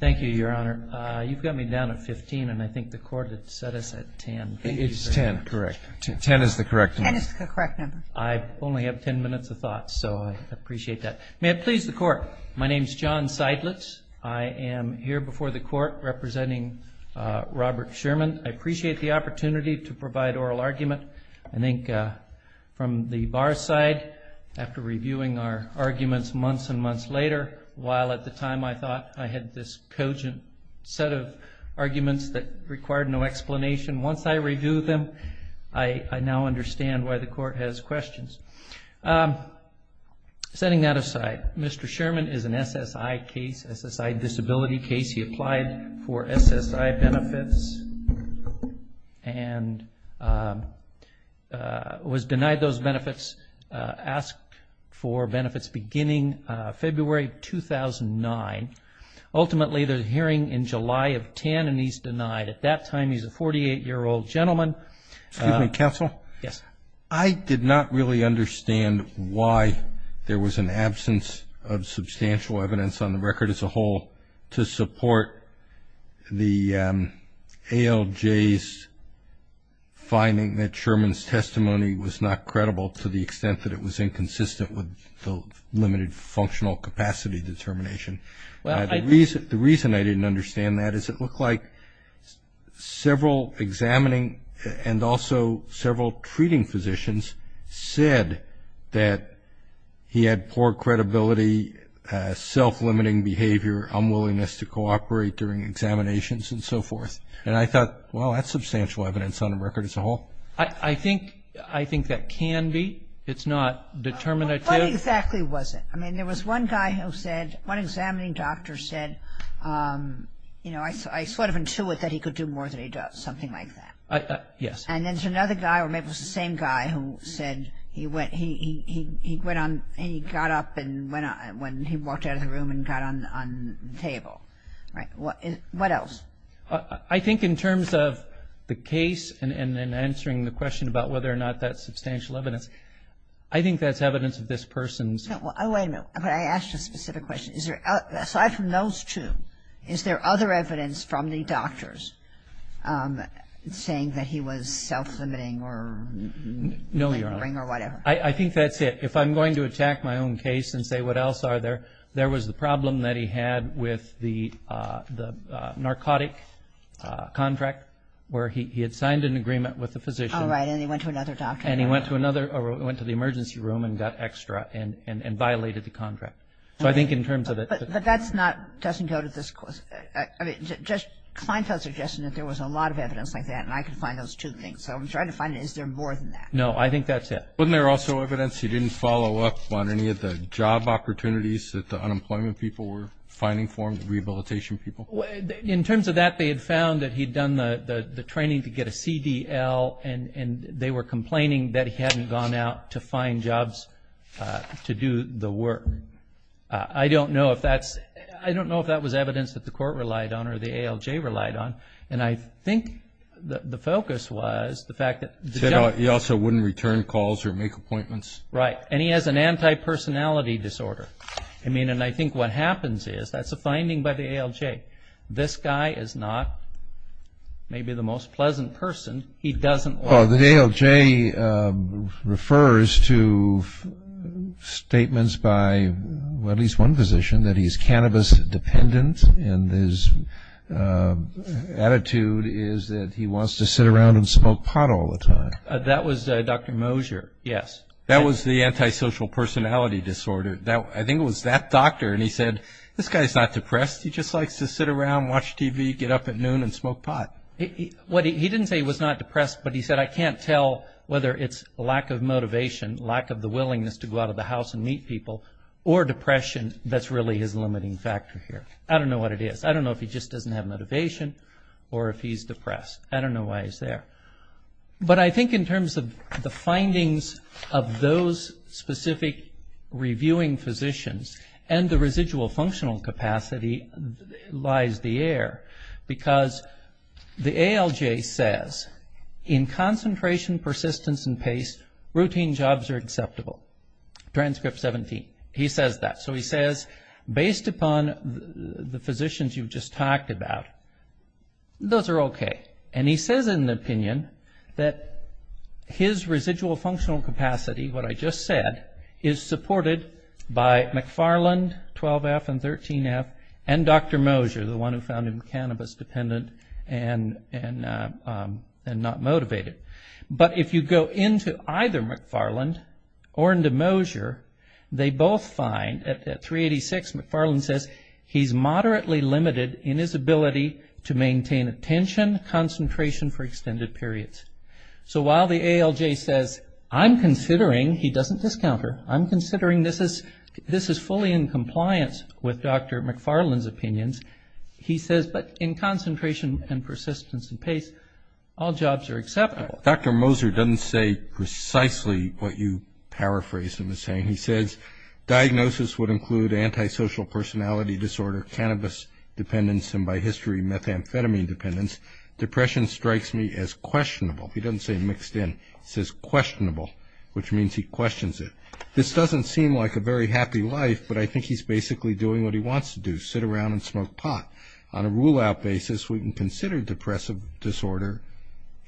Thank you, Your Honor. You've got me down at 15, and I think the court had set us at 10. It's 10, correct. 10 is the correct number. 10 is the correct number. I only have 10 minutes of thought, so I appreciate that. May it please the Court, my name is John Seidlitz. I am here before the Court representing Robert Sherman. I appreciate the opportunity to provide oral argument. I think from the bar's side, after reviewing our arguments months and months later, while at the time I thought I had this cogent set of arguments that required no explanation, once I review them, I now understand why the Court has questions. Setting that aside, Mr. Sherman is an SSI case, SSI disability case. He applied for SSI benefits and was denied those benefits. He was asked for benefits beginning February 2009. Ultimately, the hearing in July of 10, and he's denied. At that time, he's a 48-year-old gentleman. Excuse me, counsel. Yes. I did not really understand why there was an absence of substantial evidence on the record as a whole to support the ALJ's finding that Sherman's testimony was not credible to the extent that it was inconsistent with the limited functional capacity determination. The reason I didn't understand that is it looked like several examining and also several treating physicians said that he had poor credibility, self-limiting behavior, unwillingness to cooperate during examinations, and so forth. And I thought, well, that's substantial evidence on the record as a whole. I think that can be. It's not determinative. What exactly was it? I mean, there was one guy who said, one examining doctor said, you know, I sort of intuit that he could do more than he does, something like that. Yes. And there's another guy or maybe it was the same guy who said he went on and he got up when he walked out of the room and got on the table. Right. What else? I think in terms of the case and answering the question about whether or not that's substantial evidence, I think that's evidence of this person's. Wait a minute. I asked you a specific question. Aside from those two, is there other evidence from the doctors saying that he was self-limiting or... No, Your Honor... or whatever. I think that's it. If I'm going to attack my own case and say what else are there, there was the problem that he had with the narcotic contract where he had signed an agreement with the physician. All right. And he went to another doctor. And he went to another or went to the emergency room and got extra and violated the contract. So I think in terms of the... But that's not... doesn't go to this. I mean, just Kleinfeld suggested that there was a lot of evidence like that, and I could find those two things. So I'm trying to find is there more than that. No, I think that's it. Wasn't there also evidence he didn't follow up on any of the job opportunities that the unemployment people were finding for him, the rehabilitation people? In terms of that, they had found that he had done the training to get a CDL, and they were complaining that he hadn't gone out to find jobs to do the work. I don't know if that's... I don't know if that was evidence that the court relied on or the ALJ relied on. And I think the focus was the fact that... He also wouldn't return calls or make appointments. Right. And he has an antipersonality disorder. I mean, and I think what happens is that's a finding by the ALJ. This guy is not maybe the most pleasant person. He doesn't like... Well, the ALJ refers to statements by at least one physician that he's cannabis dependent, and his attitude is that he wants to sit around and smoke pot all the time. That was Dr. Mosier. Yes. That was the antisocial personality disorder. I think it was that doctor, and he said, this guy's not depressed, he just likes to sit around, watch TV, get up at noon and smoke pot. He didn't say he was not depressed, but he said, I can't tell whether it's lack of motivation, lack of the willingness to go out of the house and meet people, or depression that's really his limiting factor here. I don't know what it is. I don't know if he just doesn't have motivation or if he's depressed. I don't know why he's there. But I think in terms of the findings of those specific reviewing physicians and the residual functional capacity lies the air, because the ALJ says, in concentration, persistence, and pace, routine jobs are acceptable. Transcript 17. He says that. So he says, based upon the physicians you've just talked about, those are okay. And he says in the opinion that his residual functional capacity, what I just said, is supported by McFarland, 12F and 13F, and Dr. Mosher, the one who found him cannabis dependent and not motivated. But if you go into either McFarland or into Mosher, they both find, at 386, McFarland says he's moderately limited in his ability to maintain attention, concentration for extended periods. So while the ALJ says, I'm considering, he doesn't discount her, I'm considering this is fully in compliance with Dr. McFarland's opinions. He says, but in concentration and persistence and pace, all jobs are acceptable. Dr. Mosher doesn't say precisely what you paraphrased him as saying. He says, diagnosis would include antisocial personality disorder, cannabis dependence, and by history, methamphetamine dependence. He says, depression strikes me as questionable. He doesn't say mixed in. He says questionable, which means he questions it. This doesn't seem like a very happy life, but I think he's basically doing what he wants to do, sit around and smoke pot. On a rule-out basis, we can consider depressive disorder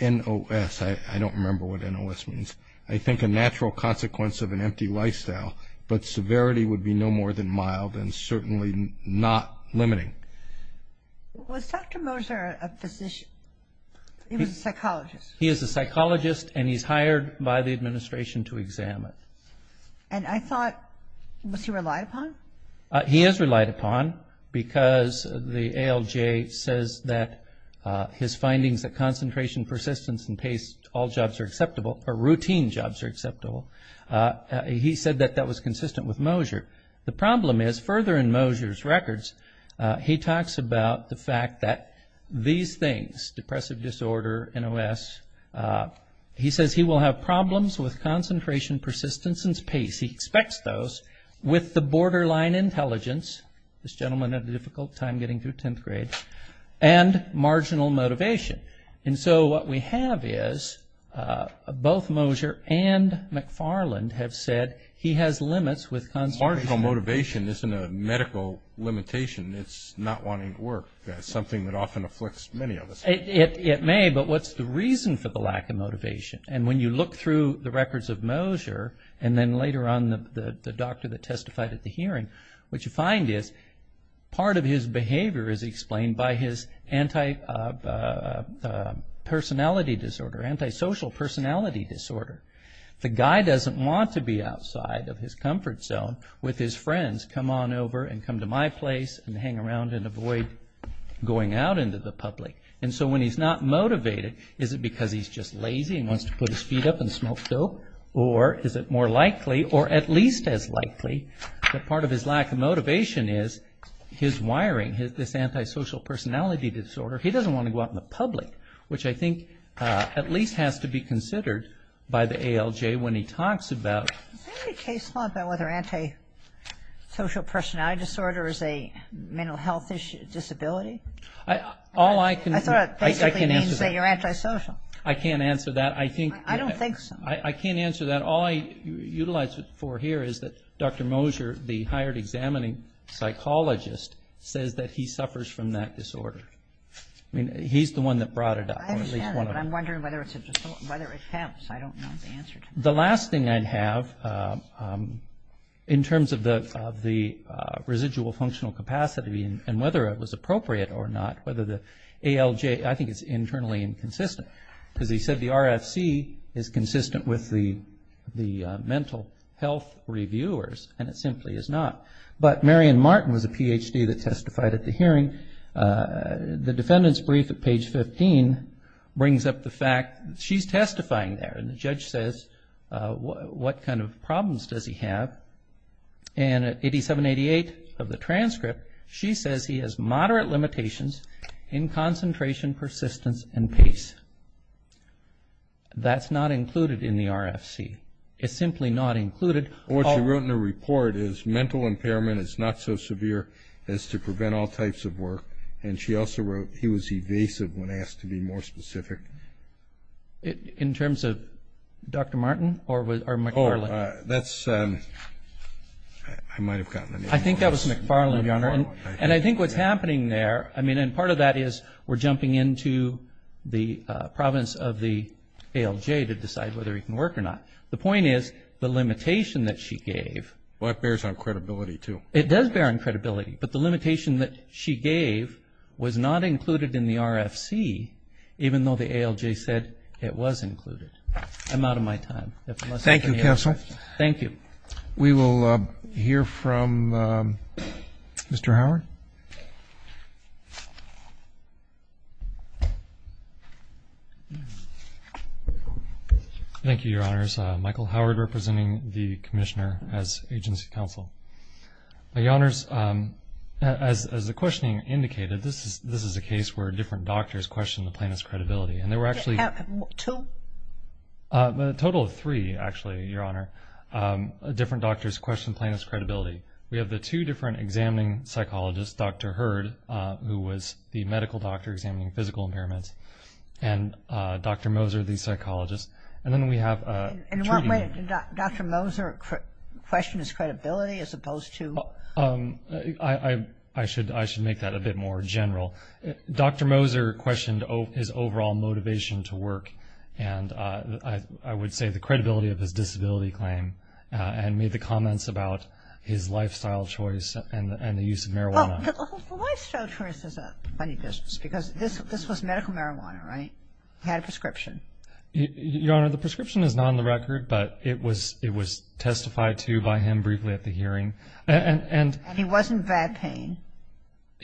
NOS. I don't remember what NOS means. I think a natural consequence of an empty lifestyle, but severity would be no more than mild and certainly not limiting. Was Dr. Mosher a physician? He was a psychologist. He is a psychologist, and he's hired by the administration to examine. And I thought, was he relied upon? He is relied upon because the ALJ says that his findings that concentration, persistence, and pace, all jobs are acceptable, or routine jobs are acceptable. He said that that was consistent with Mosher. The problem is, further in Mosher's records, he talks about the fact that these things, depressive disorder, NOS, he says he will have problems with concentration, persistence, and pace. He expects those with the borderline intelligence, this gentleman had a difficult time getting through 10th grade, and marginal motivation. And so what we have is both Mosher and McFarland have said he has limits with marginal motivation isn't a medical limitation. It's not wanting to work. That's something that often afflicts many of us. It may, but what's the reason for the lack of motivation? And when you look through the records of Mosher, and then later on the doctor that testified at the hearing, what you find is part of his behavior is explained by his antipersonality disorder, antisocial personality disorder. The guy doesn't want to be outside of his comfort zone with his friends, come on over and come to my place and hang around and avoid going out into the public. And so when he's not motivated, is it because he's just lazy and wants to put his feet up and smoke dope? Or is it more likely, or at least as likely, that part of his lack of motivation is his wiring, this antisocial personality disorder. He doesn't want to go out in the public, which I think at least has to be considered by the ALJ when he talks about. Is there any case law about whether antisocial personality disorder is a mental health disability? I thought it basically means that you're antisocial. I can't answer that. I don't think so. I can't answer that. All I utilize it for here is that Dr. Mosher, the hired examining psychologist, says that he suffers from that disorder. He's the one that brought it up. I understand, but I'm wondering whether it helps. I don't know the answer to that. The last thing I'd have, in terms of the residual functional capacity and whether it was appropriate or not, whether the ALJ, I think it's internally inconsistent. Because he said the RFC is consistent with the mental health reviewers, and it simply is not. But Marion Martin was a Ph.D. that testified at the hearing. The defendant's brief at page 15 brings up the fact that she's testifying there, and the judge says, what kind of problems does he have? And at 8788 of the transcript, she says he has moderate limitations in concentration, persistence, and pace. That's not included in the RFC. It's simply not included. What she wrote in her report is mental impairment is not so severe as to prevent all types of work. And she also wrote he was evasive when asked to be more specific. In terms of Dr. Martin or McFarland? Oh, that's ‑‑ I might have gotten the name wrong. I think that was McFarland, Your Honor. And I think what's happening there, I mean, and part of that is we're jumping into the province of the ALJ to decide whether he can work or not. The point is the limitation that she gave. Well, that bears on credibility, too. It does bear on credibility. But the limitation that she gave was not included in the RFC, even though the ALJ said it was included. I'm out of my time. Thank you, counsel. Thank you. We will hear from Mr. Howard. Thank you, Your Honor. Thank you, Your Honors. Michael Howard representing the commissioner as agency counsel. Your Honors, as the questioning indicated, this is a case where different doctors questioned the plaintiff's credibility. And there were actually ‑‑ Two? A total of three, actually, Your Honor. Different doctors questioned plaintiff's credibility. We have the two different examining psychologists, Dr. Hurd, who was the medical doctor examining physical impairments, and Dr. Moser, the psychologist. And then we have ‑‑ In what way did Dr. Moser question his credibility as opposed to ‑‑ I should make that a bit more general. Dr. Moser questioned his overall motivation to work, and I would say the credibility of his disability claim, and made the comments about his lifestyle choice and the use of marijuana. Well, the lifestyle choice is a funny business, because this was medical marijuana, right? He had a prescription. Your Honor, the prescription is not on the record, but it was testified to by him briefly at the hearing. And he was in bad pain.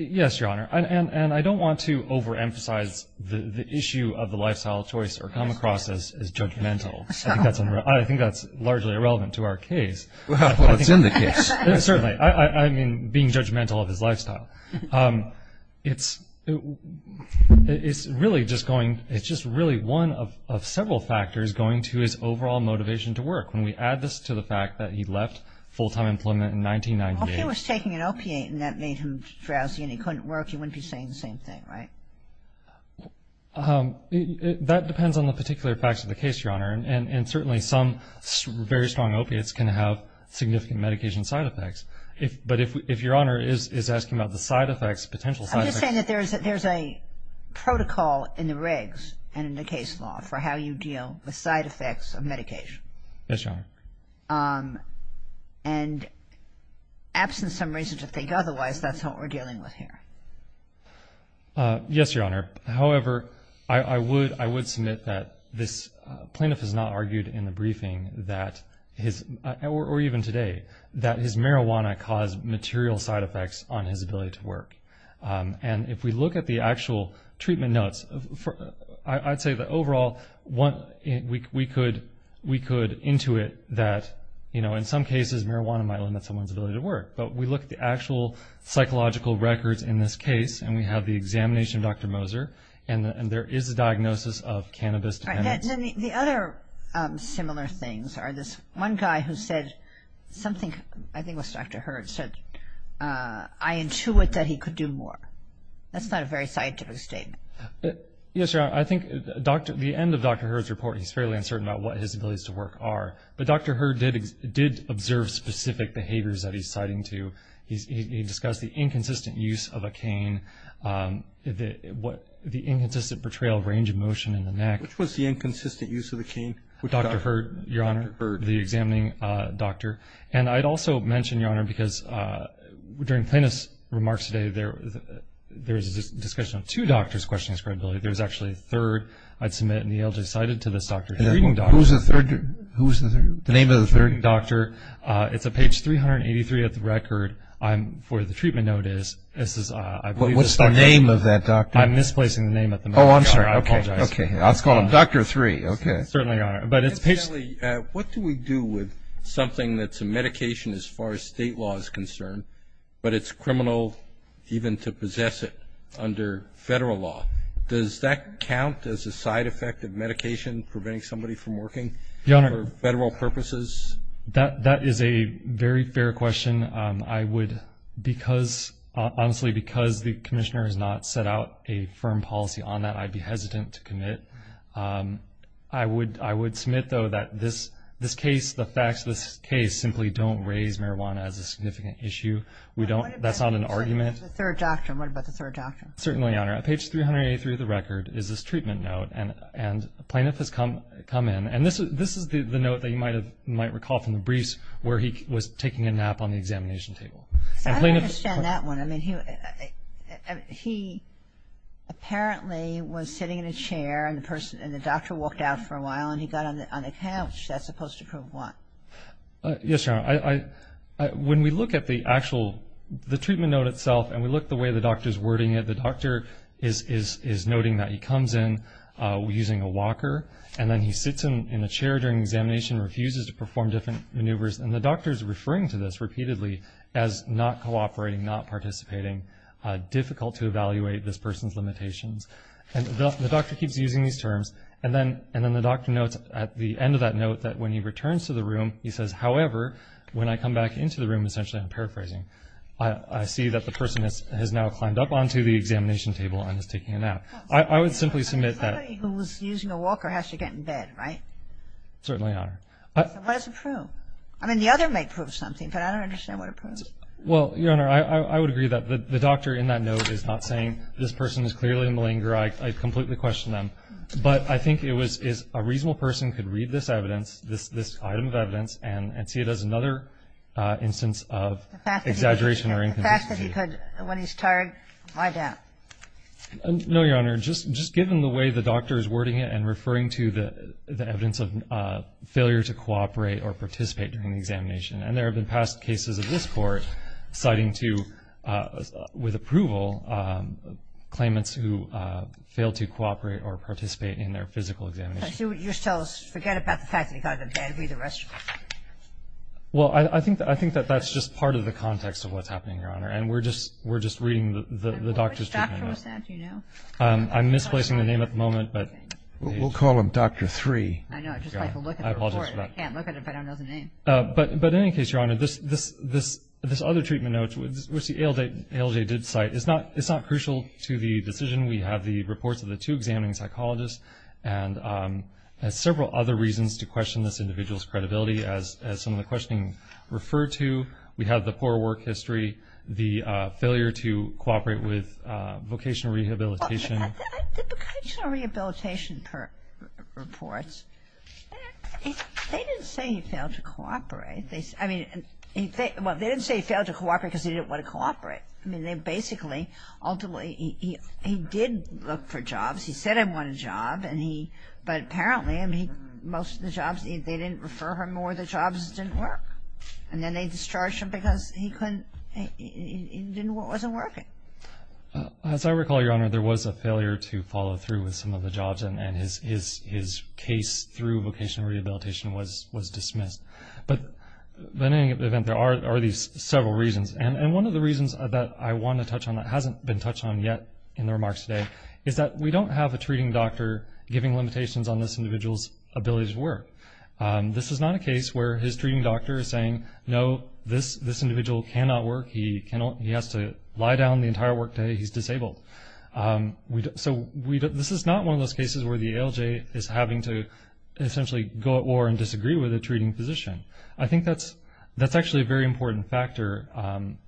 Yes, Your Honor. And I don't want to overemphasize the issue of the lifestyle choice or come across as judgmental. I think that's largely irrelevant to our case. Well, it's in the case. Certainly. I mean, being judgmental of his lifestyle. It's really just going ‑‑ it's just really one of several factors going to his overall motivation to work. When we add this to the fact that he left full‑time employment in 1998. Well, if he was taking an opiate and that made him drowsy and he couldn't work, he wouldn't be saying the same thing, right? That depends on the particular facts of the case, Your Honor. And certainly some very strong opiates can have significant medication side effects. But if Your Honor is asking about the side effects, potential side effects. I'm just saying that there's a protocol in the regs and in the case law for how you deal with side effects of medication. Yes, Your Honor. And absent some reason to think otherwise, that's what we're dealing with here. Yes, Your Honor. However, I would submit that this plaintiff has not argued in the briefing that his, or even today, that his marijuana caused material side effects on his ability to work. And if we look at the actual treatment notes, I'd say that overall we could intuit that, you know, in some cases marijuana might limit someone's ability to work. But we look at the actual psychological records in this case and we have the examination of Dr. Moser and there is a diagnosis of cannabis dependence. The other similar things are this one guy who said something, I think it was Dr. Hurd, said I intuit that he could do more. That's not a very scientific statement. Yes, Your Honor. I think the end of Dr. Hurd's report, he's fairly uncertain about what his abilities to work are. But Dr. Hurd did observe specific behaviors that he's citing to. He discussed the inconsistent use of a cane, the inconsistent portrayal of range of motion in the neck. Which was the inconsistent use of the cane? Dr. Hurd, Your Honor, the examining doctor. And I'd also mention, Your Honor, because during plaintiff's remarks today, there was a discussion of two doctors questioning his credibility. There was actually a third I'd submit and the ALJ cited to this doctor. Who's the third? The name of the third doctor. It's on page 383 of the record for the treatment notice. What's the name of that doctor? I'm misplacing the name at the moment. Oh, I'm sorry. I apologize. Let's call him Dr. Three. Certainly, Your Honor. What do we do with something that's a medication as far as state law is concerned, but it's criminal even to possess it under federal law? Does that count as a side effect of medication preventing somebody from working? Your Honor. For federal purposes? That is a very fair question. I would, because, honestly, because the commissioner has not set out a firm policy on that, I'd be hesitant to commit. I would submit, though, that this case, the facts of this case, simply don't raise marijuana as a significant issue. That's not an argument. What about the third doctor? Certainly, Your Honor. On page 383 of the record is this treatment note, and a plaintiff has come in. And this is the note that you might recall from the briefs where he was taking a nap on the examination table. I don't understand that one. I mean, he apparently was sitting in a chair, and the doctor walked out for a while, and he got on the couch. That's supposed to prove what? Yes, Your Honor. When we look at the actual, the treatment note itself, and we look at the way the doctor is wording it, the doctor is noting that he comes in using a walker, and then he sits in a chair during examination and refuses to perform different maneuvers. And the doctor is referring to this repeatedly as not cooperating, not participating, difficult to evaluate this person's limitations. And the doctor keeps using these terms. And then the doctor notes at the end of that note that when he returns to the room, he says, however, when I come back into the room, essentially I'm paraphrasing. I see that the person has now climbed up onto the examination table and is taking a nap. I would simply submit that. I thought he was using a walker, has to get in bed, right? Certainly, Your Honor. What does it prove? I mean, the other may prove something, but I don't understand what it proves. Well, Your Honor, I would agree that the doctor in that note is not saying this person is clearly malingering. I completely question them. And so I think that's an example of the fact that he could have been paraphrasing and not participating in the physical examinations and see it as another instance of exaggeration or inconclusive. The fact that he could, when he's tired, my doubt. No, Your Honor. Just given the way the doctor's wording it and referring to the evidence of failure to cooperate or participate during the examination. And there have been past cases of this Court citing to, with approval, claimants who fail to cooperate or participate in their physical examination. So you're telling us to forget about the fact that he got a bad read of the rest of it? Well, I think that that's just part of the context of what's happening, Your Honor. And we're just reading the doctor's treatment. Which doctor was that? Do you know? I'm misplacing the name at the moment. We'll call him Dr. Three. I know. I'd just like to look at the report. I can't look at it if I don't know the name. But in any case, Your Honor, this other treatment note, which the ALJ did cite, it's not crucial to the decision. We have the reports of the two examining psychologists and several other reasons to question this individual's credibility. As some of the questioning referred to, we have the poor work history, the failure to cooperate with vocational rehabilitation. Well, the vocational rehabilitation reports, they didn't say he failed to cooperate. I mean, well, they didn't say he failed to cooperate because he didn't want to cooperate. I mean, they basically, ultimately, he did look for jobs. He said, I want a job. And he, but apparently, I mean, most of the jobs, they didn't refer him or the jobs didn't work. And then they discharged him because he couldn't, it wasn't working. As I recall, Your Honor, there was a failure to follow through with some of the jobs, and his case through vocational rehabilitation was dismissed. But in any event, there are these several reasons. And one of the reasons that I want to touch on that hasn't been touched on yet in the remarks today is that we don't have a treating doctor giving limitations on this individual's ability to work. This is not a case where his treating doctor is saying, no, this individual cannot work. He has to lie down the entire workday. He's disabled. So this is not one of those cases where the ALJ is having to essentially go at war and disagree with a treating physician. I think that's actually a very important factor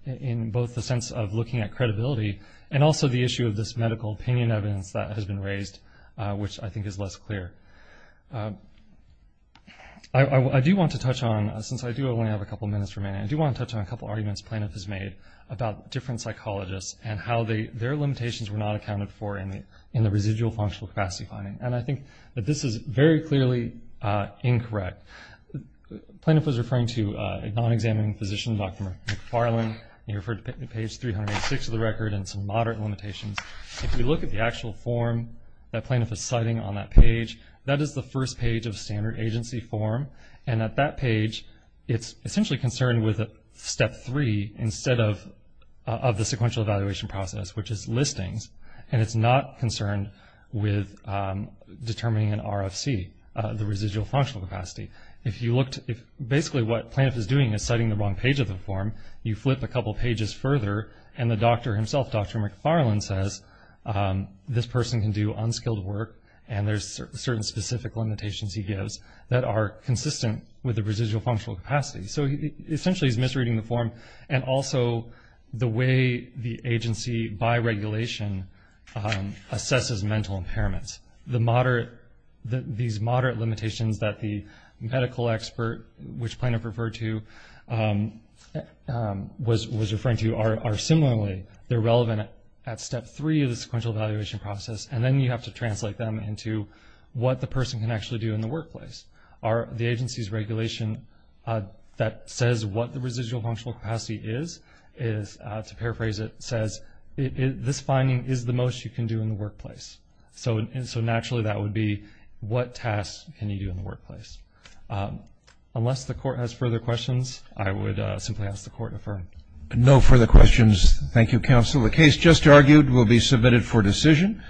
in both the sense of looking at credibility and also the issue of this medical opinion evidence that has been raised, which I think is less clear. I do want to touch on, since I do only have a couple minutes remaining, I do want to touch on a couple arguments Plaintiff has made about different psychologists and how their limitations were not accounted for in the residual functional capacity finding. And I think that this is very clearly incorrect. Plaintiff was referring to a non-examining physician, Dr. McFarland, and he referred to page 386 of the record and some moderate limitations. If you look at the actual form that Plaintiff is citing on that page, that is the first page of standard agency form. And at that page, it's essentially concerned with step three instead of the sequential evaluation process, which is listings, and it's not concerned with determining an RFC, the residual functional capacity. Basically what Plaintiff is doing is citing the wrong page of the form. You flip a couple pages further, and the doctor himself, Dr. McFarland, says this person can do unskilled work, and there's certain specific limitations he gives that are consistent with the residual functional capacity. So essentially he's misreading the form, and also the way the agency by regulation assesses mental impairments. These moderate limitations that the medical expert, which Plaintiff referred to, was referring to, are similarly relevant at step three of the sequential evaluation process, and then you have to translate them into what the person can actually do in the workplace. The agency's regulation that says what the residual functional capacity is, to paraphrase it, says this finding is the most you can do in the workplace. So naturally that would be what tasks can you do in the workplace. Unless the Court has further questions, I would simply ask the Court to affirm. No further questions. Thank you, Counsel. The case just argued will be submitted for decision.